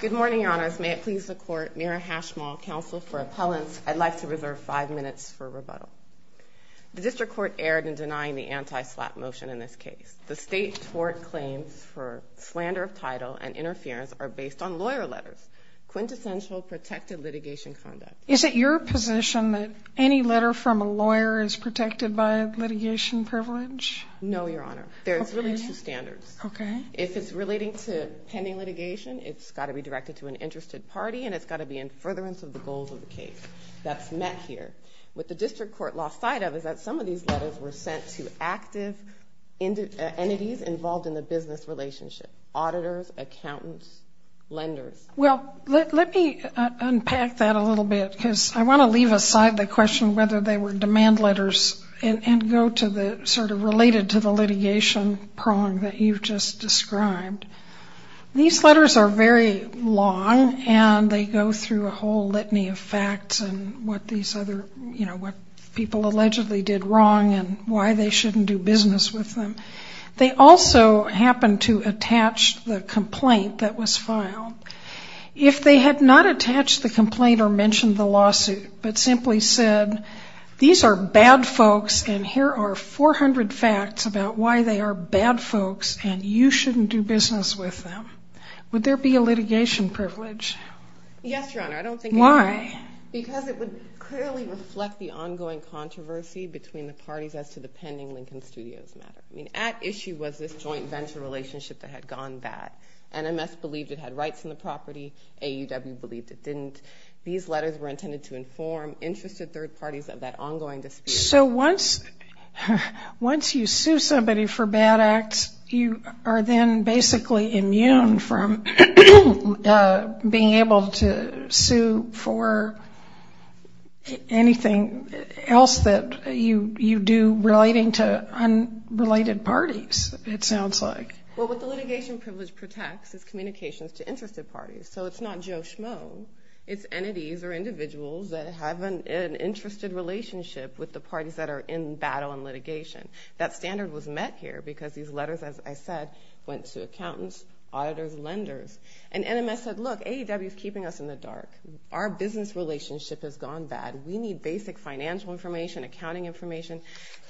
Good morning, Your Honors. May it please the Court, Mira Hashmal, Counsel for Appellants, I'd like to reserve five minutes for rebuttal. The District Court erred in denying the anti-SLAPP motion in this case. The state tort claims for slander of title and interference are based on lawyer letters, quintessential protected litigation conduct. Is it your position that any letter from a lawyer is protected by litigation privilege? No, Your Honor. There's really two standards. If it's relating to pending litigation, it's got to be directed to an interested party and it's got to be in furtherance of the goals of the case that's met here. What the District Court lost sight of is that some of these letters were sent to active entities involved in the business relationship, auditors, accountants, lenders. Well, let me unpack that a little bit because I want to leave aside the question whether they were demand letters and go to the sort of related to the litigation prong that you've just described. These letters are very long and they go through a whole litany of facts and what these other, you know, what people allegedly did wrong and why they shouldn't do business with them. They also happen to attach the complaint that was filed. If they had not attached the complaint or mentioned the lawsuit but simply said, these are bad folks and here are 400 facts about why they are bad folks and you shouldn't do business with them, would there be a litigation privilege? Yes, Your Honor. I don't think it would. Why? Because it would clearly reflect the ongoing controversy between the parties as to the pending Lincoln Studios matter. I mean, at issue was this joint venture relationship that had gone bad. NMS believed it had rights in the property. AUW believed it didn't. These letters were intended to inform interested third parties of that ongoing dispute. So once you sue somebody for bad acts, you are then basically immune from being able to sue for anything else that you do relating to unrelated parties, it sounds like. Well, what the litigation privilege protects is communications to interested parties. So it's not Joe Schmo. It's entities or individuals that have an interested relationship with the parties that are in battle and litigation. That standard was met here because these letters, as I said, went to accountants, auditors, lenders. And NMS said, look, AUW is keeping us in the dark. Our business relationship has gone bad. We need basic financial information, accounting information.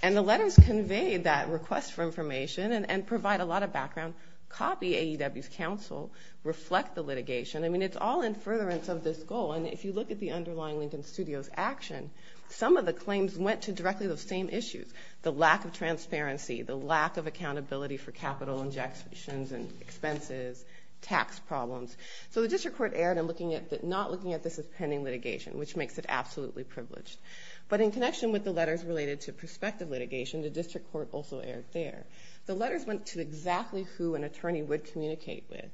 And the letters conveyed that request for information and provide a lot of background, copy AUW's counsel, reflect the litigation. I mean, it's all in furtherance of this goal. And if you look at the underlying Lincoln Studios action, some of the claims went to directly those same issues. The lack of transparency, the lack of accountability for capital injections and expenses, tax problems. So the district court erred in not looking at this as pending litigation, which makes it absolutely privileged. But in connection with the letters related to prospective litigation, the district court also erred there. The letters went to exactly who an attorney would communicate with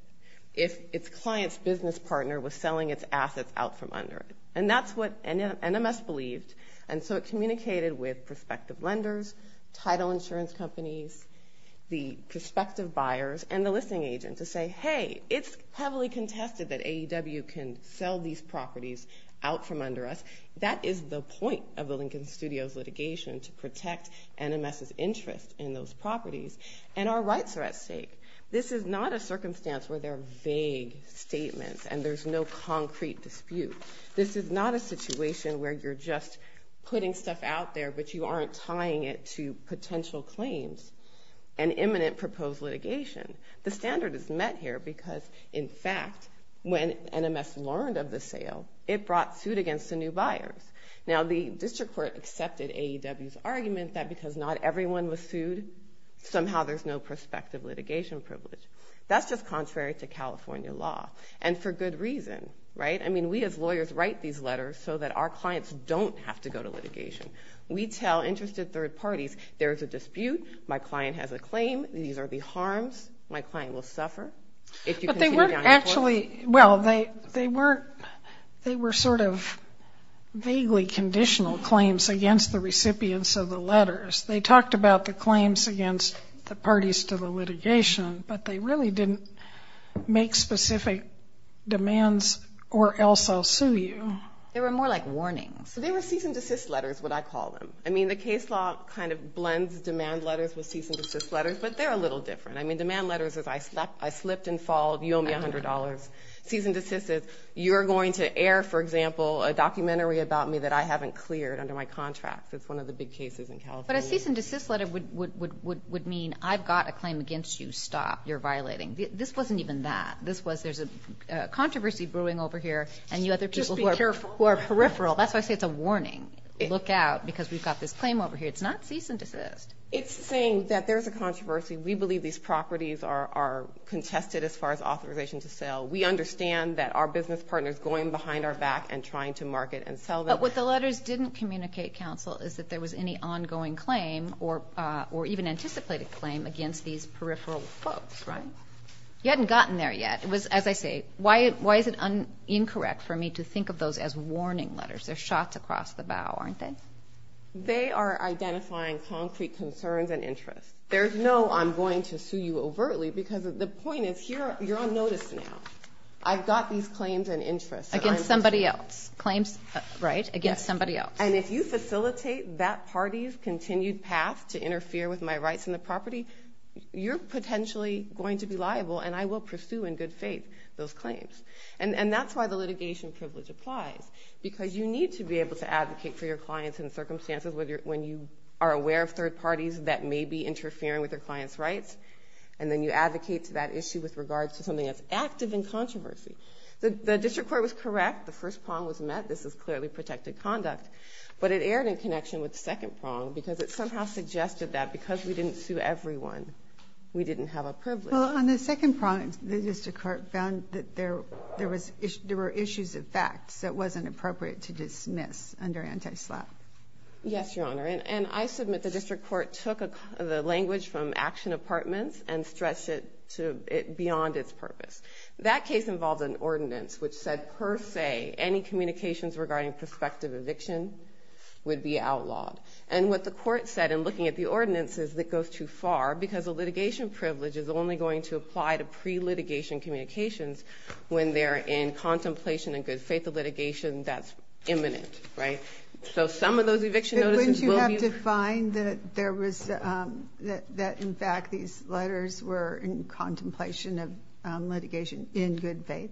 if its client's business partner was selling its assets out from under it. And that's what NMS believed. And so it communicated with prospective lenders, title insurance companies, the prospective buyers, and the listing agent to say, hey, it's heavily contested that AUW can sell these properties out from under us. That is the point of the Lincoln Studios litigation, to protect NMS's interest in those properties. And our rights are at stake. This is not a circumstance where there are vague statements and there's no concrete dispute. This is not a situation where you're just putting stuff out there, but you aren't tying it to potential claims and imminent proposed litigation. The standard is met here because, in fact, when NMS learned of the sale, it brought suit against the new buyers. Now, the district court accepted AUW's argument that because not everyone was sued, somehow there's no prospective litigation privilege. That's just contrary to California law, and for good reason, right? I mean, we as lawyers write these letters so that our clients don't have to go to litigation. We tell interested third parties, there's a dispute, my client has a claim, these are the harms, my client will suffer. But they weren't actually, well, they were sort of vaguely conditional claims against the recipients of the letters. They talked about the claims against the parties to the litigation, but they really didn't make specific demands or else I'll sue you. They were more like warnings. They were cease and desist letters, what I call them. I mean, the case law kind of blends demand letters with cease and desist letters, but they're a little different. I mean, demand letters is I slipped and fall, you owe me $100. Cease and desist is you're going to air, for example, a documentary about me that I haven't cleared under my contract. It's one of the big cases in California. But a cease and desist letter would mean I've got a claim against you, stop, you're violating. This wasn't even that. This was there's a controversy brewing over here, and you other people who are peripheral. That's why I say it's a warning. Look out because we've got this claim over here. It's not cease and desist. It's saying that there's a controversy. We believe these properties are contested as far as authorization to sell. We understand that our business partner is going behind our back and trying to market and sell them. But what the letters didn't communicate, Counsel, is that there was any ongoing claim or even anticipated claim against these peripheral folks, right? You hadn't gotten there yet. As I say, why is it incorrect for me to think of those as warning letters? They're shots across the bow, aren't they? They are identifying concrete concerns and interests. There's no I'm going to sue you overtly because the point is here you're on notice now. I've got these claims and interests. Against somebody else. Claims, right, against somebody else. And if you facilitate that party's continued path to interfere with my rights in the property, you're potentially going to be liable and I will pursue in good faith those claims. And that's why the litigation privilege applies because you need to be able to advocate for your clients in circumstances when you are aware of third parties that may be interfering with their clients' rights. And then you advocate to that issue with regards to something that's active in controversy. The district court was correct. The first prong was met. This is clearly protected conduct. But it erred in connection with the second prong because it somehow suggested that because we didn't sue everyone, we didn't have a privilege. Well, on the second prong, the district court found that there were issues of facts that wasn't appropriate to dismiss under anti-SLAPP. Yes, Your Honor. And I submit the district court took the language from Action Apartments and stretched it beyond its purpose. That case involved an ordinance which said per se any communications regarding prospective eviction would be outlawed. And what the court said in looking at the ordinance is it goes too far because a litigation privilege is only going to apply to pre-litigation communications when they're in contemplation in good faith of litigation that's imminent, right? So some of those eviction notices will be... But wouldn't you have to find that in fact these letters were in contemplation of litigation in good faith?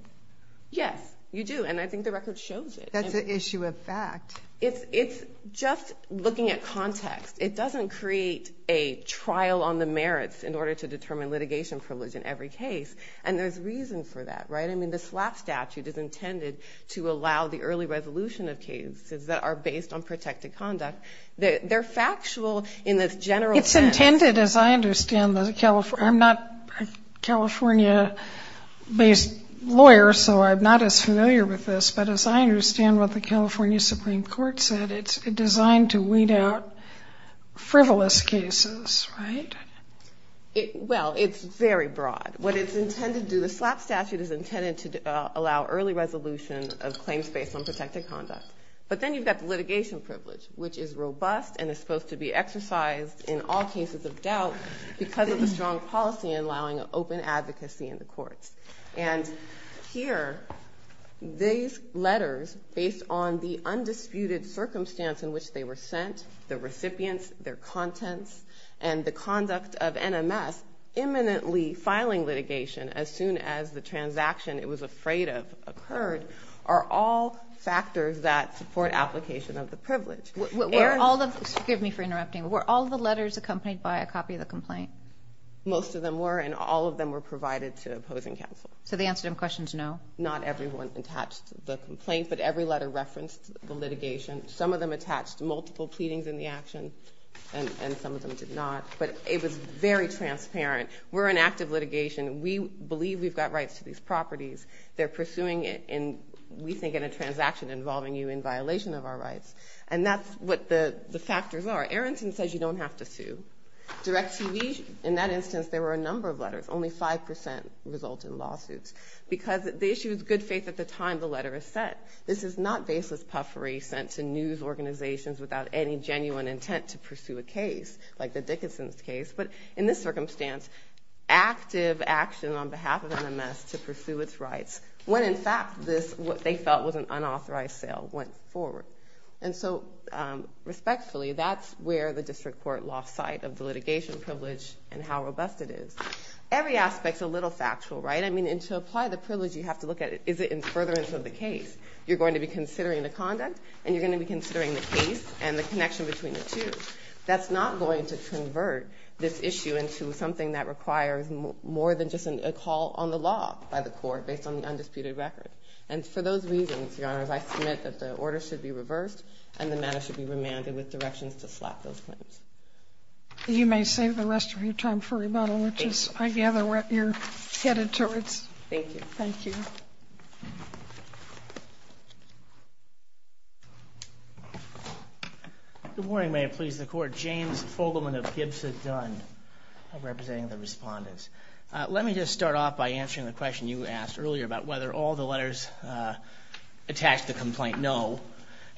Yes, you do. And I think the record shows it. That's an issue of fact. It's just looking at context. It doesn't create a trial on the merits in order to determine litigation privilege in every case. And there's reason for that, right? I mean, the SLAPP statute is intended to allow the early resolution of cases that are based on protected conduct. They're factual in this general sense. It's intended, as I understand, as a California... I'm not a California-based lawyer, so I'm not as familiar with this. But as I understand what the California Supreme Court said, it's designed to weed out frivolous cases, right? Well, it's very broad. What it's intended to do, the SLAPP statute is intended to allow early resolution of claims based on protected conduct. But then you've got the litigation privilege, which is robust and is supposed to be exercised in all cases of doubt because of the strong policy and allowing open advocacy in the courts. And here, these letters, based on the undisputed circumstance in which they were sent, the recipients, their contents, and the conduct of NMS imminently filing litigation as soon as the transaction it was afraid of occurred, are all factors that support application of the privilege. Most of them were, and all of them were provided to opposing counsel. So they answered him questions, no? Not everyone attached the complaint, but every letter referenced the litigation. Some of them attached multiple pleadings in the action, and some of them did not. But it was very transparent. We're an active litigation. We believe we've got rights to these properties. They're pursuing it, we think, in a transaction involving you in violation of our rights. And that's what the factors are. Aronson says you don't have to sue. Direct TV, in that instance, there were a number of letters. Only 5% resulted in lawsuits. Because the issue is good faith at the time the letter is sent. This is not baseless puffery sent to news organizations without any genuine intent to pursue a case, like the Dickinson case. But in this circumstance, active action on behalf of NMS to pursue its rights when, in fact, what they felt was an unauthorized sale went forward. And so, respectfully, that's where the district court lost sight of the litigation privilege and how robust it is. Every aspect's a little factual, right? I mean, to apply the privilege, you have to look at, is it in furtherance of the case? You're going to be considering the conduct, and you're going to be considering the case and the connection between the two. That's not going to convert this issue into something that requires more than just a call on the law by the court based on the undisputed record. And for those reasons, Your Honors, I submit that the order should be reversed and the matter should be remanded with directions to slap those claims. You may save the rest of your time for rebuttal, which is, I gather, what you're headed towards. Thank you. Thank you. Good morning, may it please the Court. James Fogelman of Gibson Dunn, representing the respondents. Let me just start off by answering the question you asked earlier about whether all the letters attached to the complaint know.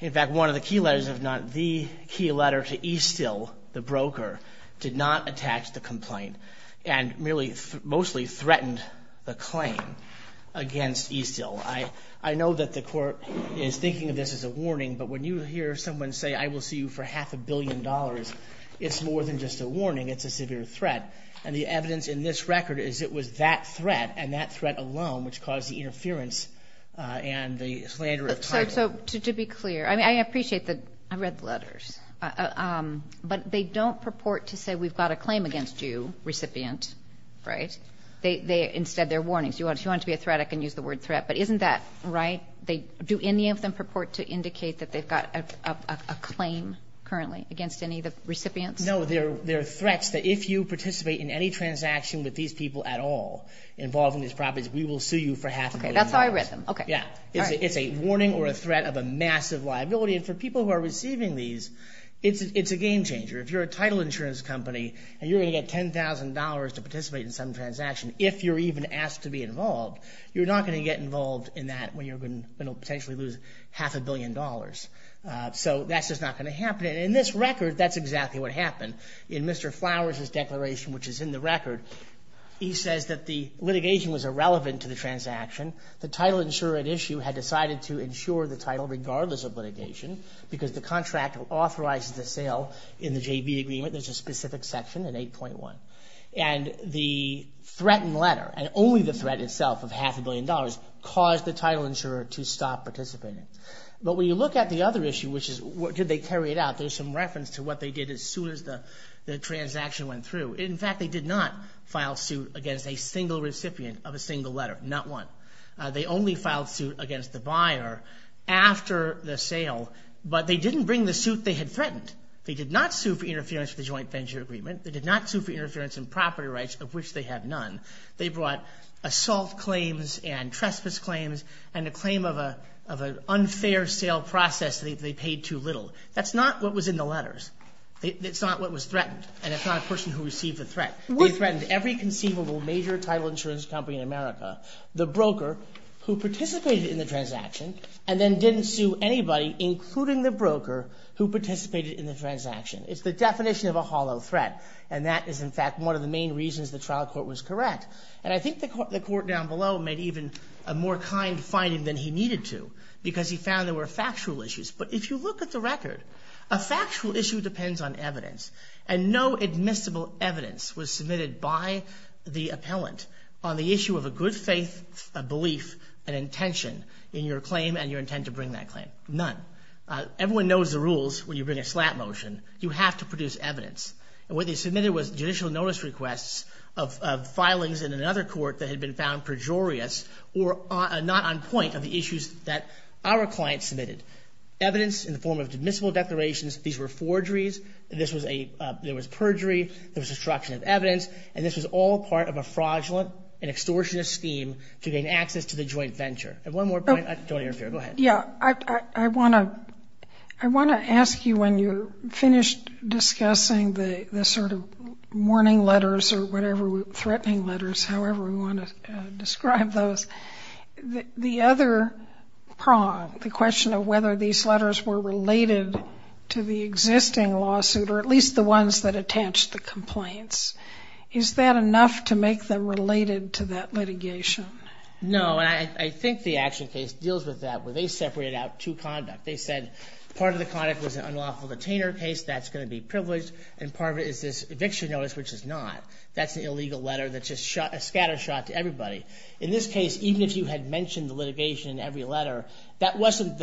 In fact, one of the key letters, if not the key letter to Estill, the broker, did not attach the complaint and mostly threatened the claim against Estill. I know that the Court is thinking of this as a warning, but when you hear someone say, I will see you for half a billion dollars, it's more than just a warning, it's a severe threat. And the evidence in this record is it was that threat and that threat alone which caused the interference and the slander of title. To be clear, I appreciate that I read the letters, but they don't purport to say we've got a claim against you, recipient, right? Instead, they're warnings. If you want it to be a threat, I can use the word threat. But isn't that right? Do any of them purport to indicate that they've got a claim currently against any of the recipients? No, they're threats that if you participate in any transaction with these people at all involving these properties, we will sue you for half a billion dollars. Okay, that's how I read them. Yeah, it's a warning or a threat of a massive liability. And for people who are receiving these, it's a game changer. If you're a title insurance company and you're going to get $10,000 to participate in some transaction, if you're even asked to be involved, you're not going to get involved in that when you're going to potentially lose half a billion dollars. So that's just not going to happen. And in this record, that's exactly what happened. In Mr. Flowers' declaration, which is in the record, he says that the litigation was irrelevant to the transaction. The title insurer at issue had decided to insure the title regardless of litigation because the contract authorizes the sale in the JV agreement. There's a specific section in 8.1. And the threatened letter, and only the threat itself of half a billion dollars, caused the title insurer to stop participating. But when you look at the other issue, which is did they carry it out, there's some reference to what they did as soon as the transaction went through. In fact, they did not file suit against a single recipient of a single letter, not one. They only filed suit against the buyer after the sale, but they didn't bring the suit they had threatened. They did not sue for interference with the JV agreement. They did not sue for interference in property rights, of which they have none. They brought assault claims and trespass claims and a claim of an unfair sale process that they paid too little. That's not what was in the letters. That's not what was threatened. And it's not a person who received the threat. They threatened every conceivable major title insurance company in America, the broker who participated in the transaction, and then didn't sue anybody, including the broker who participated in the transaction. It's the definition of a hollow threat. And that is, in fact, one of the main reasons the trial court was correct. And I think the court down below made even a more kind finding than he needed to because he found there were factual issues. But if you look at the record, a factual issue depends on evidence. And no admissible evidence was submitted by the appellant on the issue of a good faith belief and intention in your claim and your intent to bring that claim. None. Everyone knows the rules when you bring a slap motion. You have to produce evidence. And what they submitted was judicial notice requests of filings in another court that had been found pejorious or not on point of the issues that our client submitted. Evidence in the form of admissible declarations. These were forgeries. There was perjury. There was destruction of evidence. And this was all part of a fraudulent and extortionist scheme to gain access to the joint venture. One more point. Go ahead. Yeah. I want to ask you when you're finished discussing the sort of warning letters or whatever threatening letters, however we want to describe those, the other prong, the question of whether these letters were related to the existing lawsuit or at least the ones that attached the complaints, is that enough to make them related to that litigation? No. I think the action case deals with that where they separated out two conduct. They said part of the conduct was an unlawful detainer case. That's going to be privileged. And part of it is this eviction notice, which is not. That's an illegal letter that's just a scatter shot to everybody. In this case, even if you had mentioned the litigation in every letter, that wasn't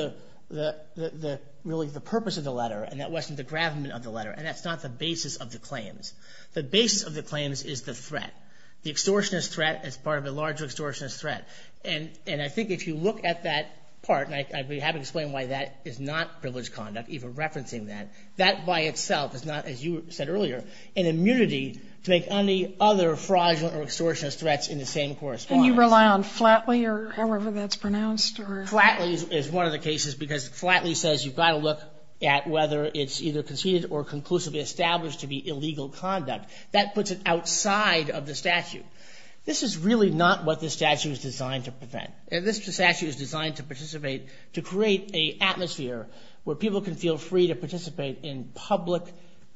really the purpose of the letter, and that wasn't the gravamen of the letter, and that's not the basis of the claims. The basis of the claims is the threat. The extortionist threat is part of a larger extortionist threat. And I think if you look at that part, and I'd be happy to explain why that is not privileged conduct, even referencing that, that by itself is not, as you said earlier, an immunity to make any other fraudulent or extortionist threats in the same correspondence. Can you rely on Flatley or however that's pronounced? Flatley is one of the cases because Flatley says you've got to look at whether it's either conceded or conclusively established to be illegal conduct. That puts it outside of the statute. This is really not what the statute is designed to prevent. This statute is designed to participate, to create an atmosphere where people can feel free to participate in public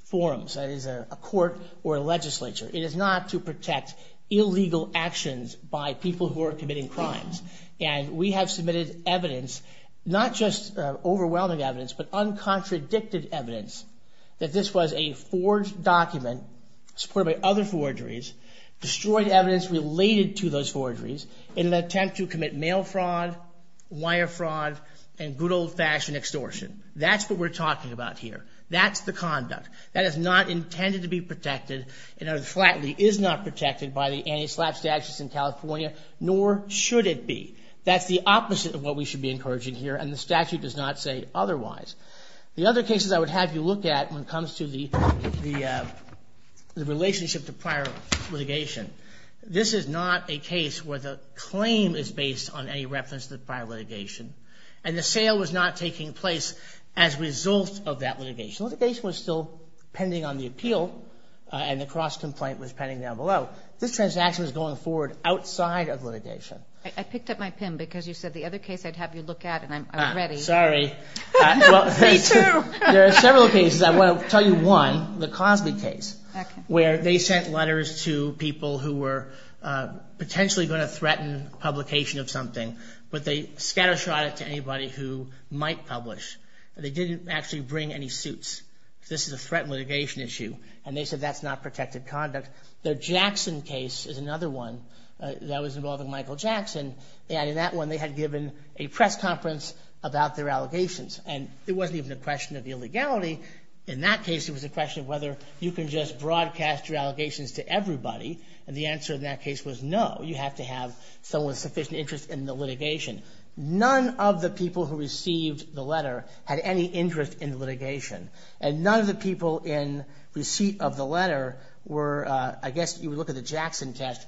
forums, that is a court or a legislature. It is not to protect illegal actions by people who are committing crimes. And we have submitted evidence, not just overwhelming evidence, but uncontradicted evidence that this was a forged document supported by other forgeries, destroyed evidence related to those forgeries in an attempt to commit mail fraud, wire fraud, and good old-fashioned extortion. That's what we're talking about here. That's the conduct. That is not intended to be protected, and Flatley is not protected by the anti-slap statutes in California, nor should it be. That's the opposite of what we should be encouraging here, and the statute does not say otherwise. The other cases I would have you look at when it comes to the relationship to prior litigation, this is not a case where the claim is based on any reference to prior litigation, and the sale was not taking place as a result of that litigation. Litigation was still pending on the appeal, and the cross-complaint was pending down below. This transaction was going forward outside of litigation. I picked up my pen because you said the other case I'd have you look at, and I'm ready. Sorry. Me too. There are several cases. I want to tell you one, the Cosby case, where they sent letters to people who were potentially going to threaten publication of something, but they scattershot it to anybody who might publish. They didn't actually bring any suits. This is a threat and litigation issue, and they said that's not protected conduct. Their Jackson case is another one that was involving Michael Jackson, and in that one they had given a press conference about their allegations, and it wasn't even a question of illegality. In that case, it was a question of whether you can just broadcast your allegations to everybody, and the answer in that case was no. You have to have someone with sufficient interest in the litigation. None of the people who received the letter had any interest in litigation, and none of the people in receipt of the letter were, I guess you would look at the Jackson test,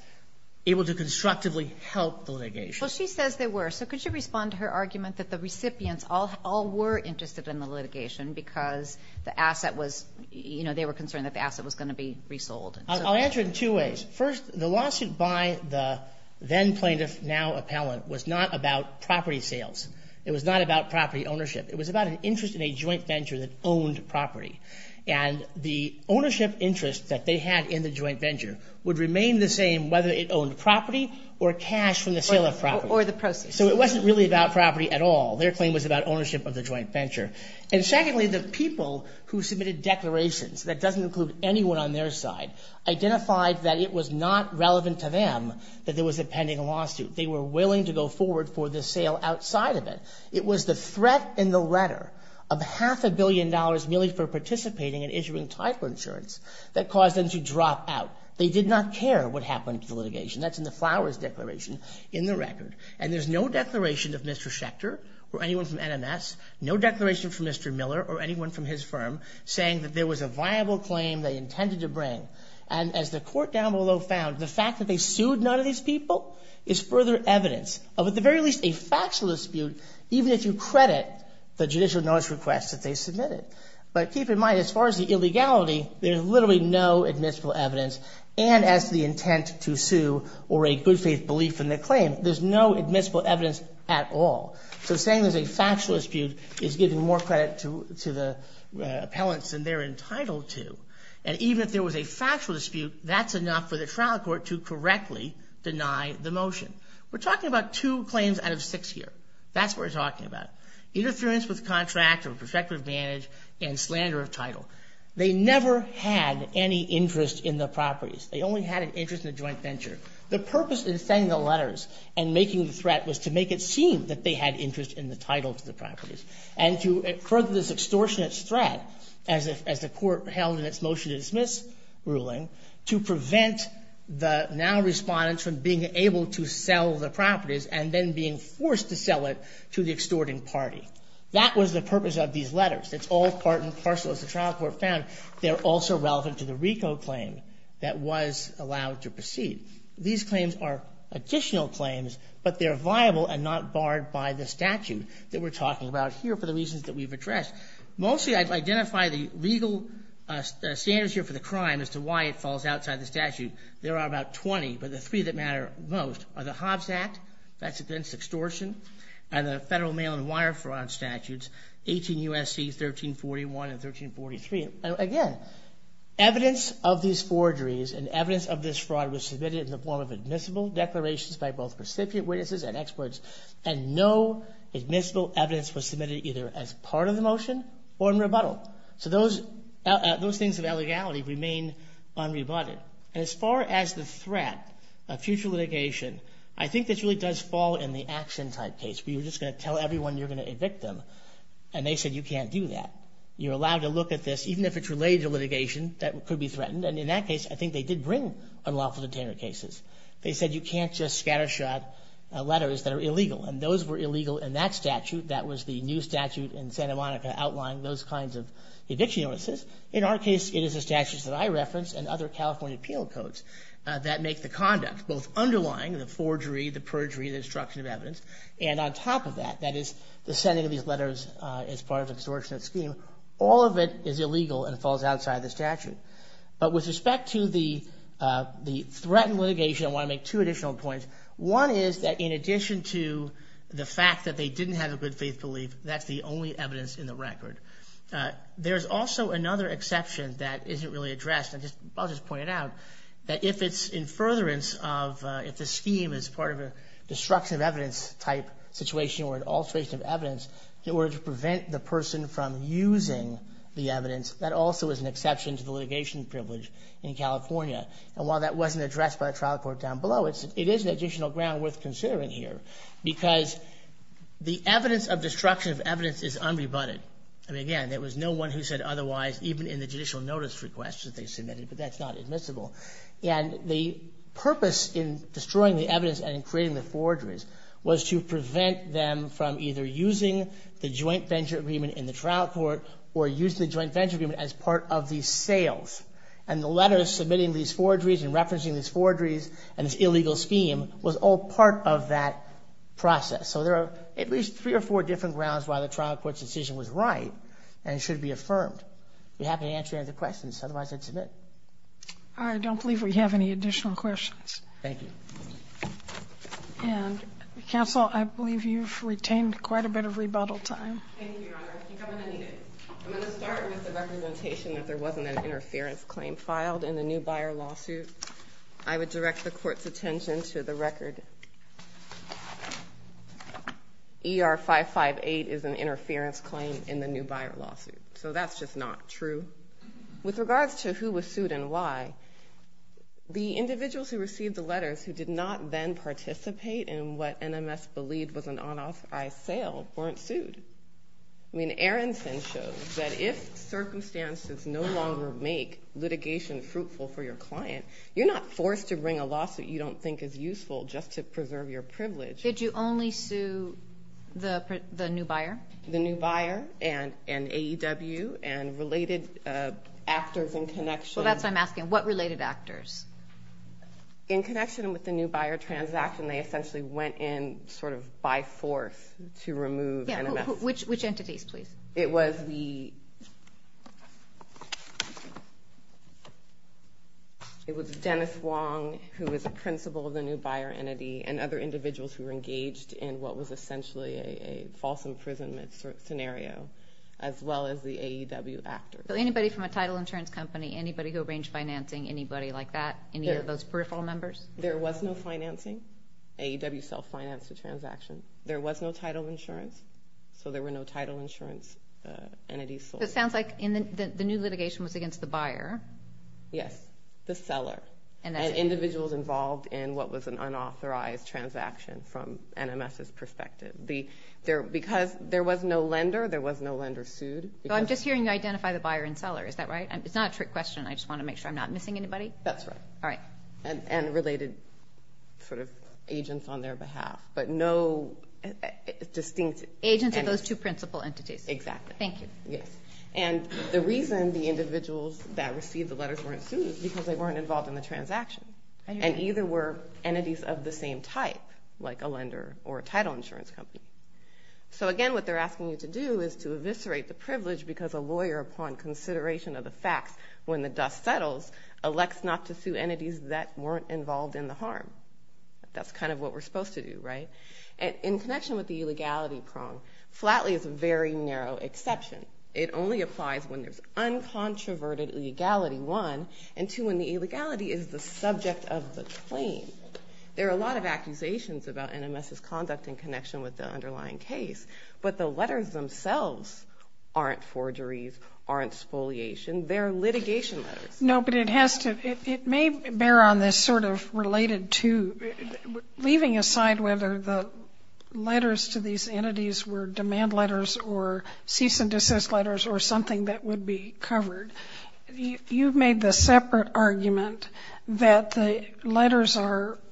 able to constructively help the litigation. Well, she says they were, so could you respond to her argument that the recipients all were interested in the litigation because the asset was, you know, they were concerned that the asset was going to be resold? I'll answer it in two ways. First, the lawsuit by the then plaintiff, now appellant, was not about property sales. It was not about property ownership. It was about an interest in a joint venture that owned property, and the ownership interest that they had in the joint venture would remain the same whether it owned property or cash from the sale of property. Or the process. So it wasn't really about property at all. Their claim was about ownership of the joint venture. And secondly, the people who submitted declarations, that doesn't include anyone on their side, identified that it was not relevant to them that there was a pending lawsuit. They were willing to go forward for the sale outside of it. It was the threat in the letter of half a billion dollars merely for participating in issuing title insurance that caused them to drop out. They did not care what happened to the litigation. That's in the Flowers Declaration in the record. And there's no declaration of Mr. Schechter or anyone from NMS, no declaration from Mr. Miller or anyone from his firm saying that there was a viable claim they intended to bring. And as the court down below found, the fact that they sued none of these people is further evidence of at the very least a factual dispute even if you credit the judicial notice request that they submitted. But keep in mind, as far as the illegality, there's literally no admissible evidence. And as to the intent to sue or a good faith belief in the claim, there's no admissible evidence at all. So saying there's a factual dispute is giving more credit to the appellants than they're entitled to. And even if there was a factual dispute, that's enough for the trial court to correctly deny the motion. We're talking about two claims out of six here. That's what we're talking about. Interference with contract or prospective advantage and slander of title. They never had any interest in the properties. They only had an interest in the joint venture. The purpose in sending the letters and making the threat was to make it seem that they had interest in the title to the properties and to further this extortionist threat, as the court held in its motion to dismiss ruling, to prevent the now respondents from being able to sell the properties and then being forced to sell it to the extorting party. That was the purpose of these letters. It's all part and parcel, as the trial court found. They're also relevant to the RICO claim that was allowed to proceed. These claims are additional claims, but they're viable and not barred by the statute that we're talking about here for the reasons that we've addressed. Mostly I've identified the legal standards here for the crime as to why it falls outside the statute. There are about 20, but the three that matter most are the Hobbs Act, that's against extortion, and the federal mail and wire fraud statutes, 18 U.S.C. 1341 and 1343. Again, evidence of these forgeries and evidence of this fraud was submitted in the form of admissible declarations by both recipient witnesses and experts, and no admissible evidence was submitted either as part of the motion or in rebuttal. So those things of illegality remain unrebutted. As far as the threat of future litigation, I think this really does fall in the action type case where you're just going to tell everyone you're going to evict them, and they said you can't do that. You're allowed to look at this, even if it's related to litigation, that could be threatened, and in that case, I think they did bring unlawful detainer cases. They said you can't just scattershot letters that are illegal, and those were illegal in that statute. That was the new statute in Santa Monica outlining those kinds of eviction notices. In our case, it is the statutes that I referenced and other California appeal codes that make the conduct, both underlying the forgery, the perjury, the destruction of evidence, and on top of that, that is, the sending of these letters as part of an extortionist scheme, all of it is illegal and falls outside the statute. But with respect to the threatened litigation, I want to make two additional points. One is that in addition to the fact that they didn't have a good faith belief, that's the only evidence in the record. There's also another exception that isn't really addressed, and I'll just point it out, that if it's in furtherance of, if the scheme is part of a destruction of evidence type situation or an alteration of evidence, in order to prevent the person from using the evidence, that also is an exception to the litigation privilege in California. And while that wasn't addressed by a trial court down below, it is an additional ground worth considering here because the evidence of destruction of evidence is unrebutted. I mean, again, there was no one who said otherwise, even in the judicial notice request that they submitted, but that's not admissible. And the purpose in destroying the evidence and in creating the forgeries was to prevent them from either using the joint venture agreement in the trial court or using the joint venture agreement as part of the sales. And the letters submitting these forgeries and referencing these forgeries and this illegal scheme was all part of that process. So there are at least three or four different grounds why the trial court's decision was right and should be affirmed. If you happen to answer any of the questions, otherwise I'd submit. All right, I don't believe we have any additional questions. Thank you. And, counsel, I believe you've retained quite a bit of rebuttal time. Thank you, Your Honor. I think I'm going to need it. I'm going to start with the representation that there wasn't an interference claim filed in the Newbuyer lawsuit. I would direct the court's attention to the record. ER 558 is an interference claim in the Newbuyer lawsuit, so that's just not true. With regards to who was sued and why, the individuals who received the letters who did not then participate in what NMS believed was an unauthorized sale weren't sued. I mean, Aronson shows that if circumstances no longer make litigation fruitful for your client, you're not forced to bring a lawsuit you don't think is useful just to preserve your privilege. Did you only sue the Newbuyer? The Newbuyer and AEW and related actors in connection. Well, that's what I'm asking. What related actors? In connection with the Newbuyer transaction, they essentially went in sort of by force to remove NMS. Which entities, please? It was Dennis Wong, who was a principal of the Newbuyer entity, and other individuals who were engaged in what was essentially a false imprisonment scenario, as well as the AEW actors. So anybody from a title insurance company, anybody who arranged financing, anybody like that, any of those peripheral members? There was no financing. AEW self-financed the transaction. There was no title insurance, so there were no title insurance entities sold. So it sounds like the new litigation was against the Buyer. Yes, the Seller. And individuals involved in what was an unauthorized transaction from NMS's perspective. Because there was no lender, there was no lender sued. I'm just hearing you identify the Buyer and Seller. Is that right? It's not a trick question. I just want to make sure I'm not missing anybody. That's right. All right. And related sort of agents on their behalf. But no distinct entities. Agents are those two principal entities. Exactly. Thank you. Yes. And the reason the individuals that received the letters weren't sued is because they weren't involved in the transaction. And either were entities of the same type, like a lender or a title insurance company. So again, what they're asking you to do is to eviscerate the privilege because a lawyer, upon consideration of the facts when the dust settles, elects not to sue entities that weren't involved in the harm. That's kind of what we're supposed to do, right? In connection with the illegality prong, Flatley is a very narrow exception. It only applies when there's uncontroverted legality, one. And two, when the illegality is the subject of the claim. There are a lot of accusations about NMS's conduct in connection with the underlying case. But the letters themselves aren't forgeries, aren't spoliation. They're litigation letters. No, but it has to – it may bear on this sort of related to – leaving aside whether the letters to these entities were demand letters or cease and desist letters or something that would be covered, you've made the separate argument that the letters are –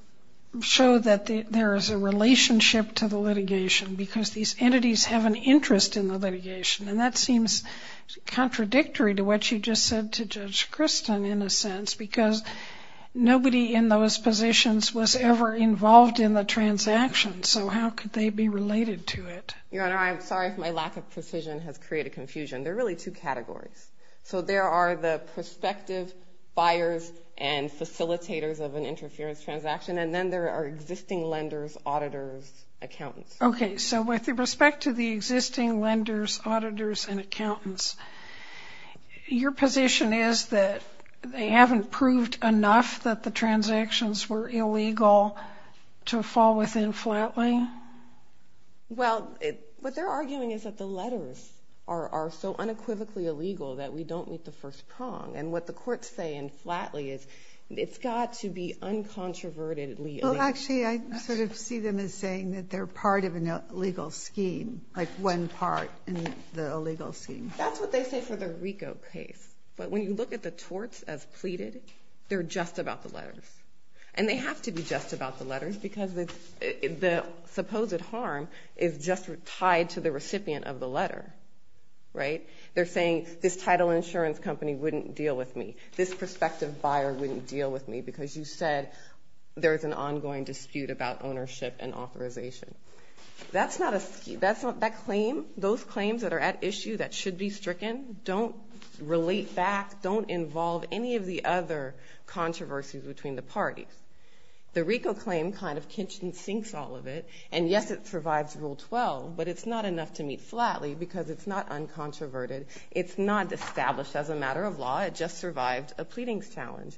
show that there is a relationship to the litigation because these entities have an interest in the litigation. And that seems contradictory to what you just said to Judge Christin in a sense because nobody in those positions was ever involved in the transaction, so how could they be related to it? Your Honor, I'm sorry if my lack of precision has created confusion. There are really two categories. So there are the prospective buyers and facilitators of an interference transaction, and then there are existing lenders, auditors, accountants. Okay, so with respect to the existing lenders, auditors, and accountants, your position is that they haven't proved enough that the transactions were illegal to fall within Flatley? Well, what they're arguing is that the letters are so unequivocally illegal that we don't meet the first prong. And what the courts say in Flatley is it's got to be uncontroverted. Well, actually, I sort of see them as saying that they're part of an illegal scheme, like one part in the illegal scheme. That's what they say for the Ricoh case. But when you look at the torts as pleaded, they're just about the letters. And they have to be just about the letters because the supposed harm is just tied to the recipient of the letter, right? They're saying this title insurance company wouldn't deal with me, this prospective buyer wouldn't deal with me because you said there's an ongoing dispute about ownership and authorization. That's not a scheme. Those claims that are at issue that should be stricken don't relate back, don't involve any of the other controversies between the parties. The Ricoh claim kind of kinched and sinks all of it. And yes, it survives Rule 12, but it's not enough to meet Flatley because it's not uncontroverted. It's not established as a matter of law. It just survived a pleadings challenge.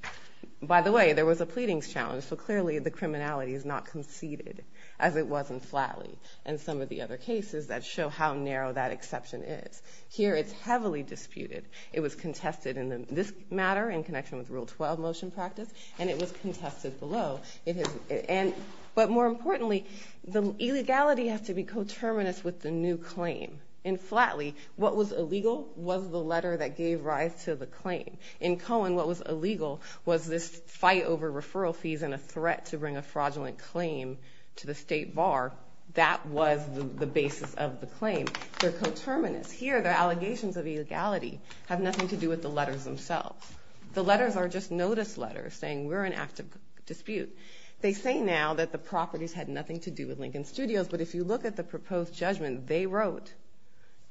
By the way, there was a pleadings challenge, so clearly the criminality is not conceded as it was in Flatley and some of the other cases that show how narrow that exception is. Here it's heavily disputed. It was contested in this matter in connection with Rule 12 motion practice, and it was contested below. But more importantly, the illegality has to be coterminous with the new claim. In Flatley, what was illegal was the letter that gave rise to the claim. In Cohen, what was illegal was this fight over referral fees and a threat to bring a fraudulent claim to the state bar. That was the basis of the claim. They're coterminous. Here the allegations of illegality have nothing to do with the letters themselves. The letters are just notice letters saying we're in active dispute. They say now that the properties had nothing to do with Lincoln Studios, but if you look at the proposed judgment they wrote,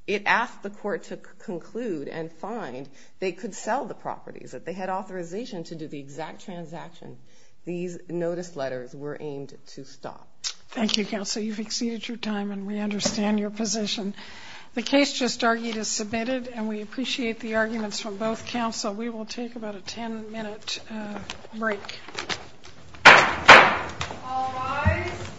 it asked the court to conclude and find they could sell the properties, that they had authorization to do the exact transaction. These notice letters were aimed to stop. Thank you, Counsel. You've exceeded your time, and we understand your position. The case just argued is submitted, and we appreciate the arguments from both counsel. We will take about a 10-minute break. All rise.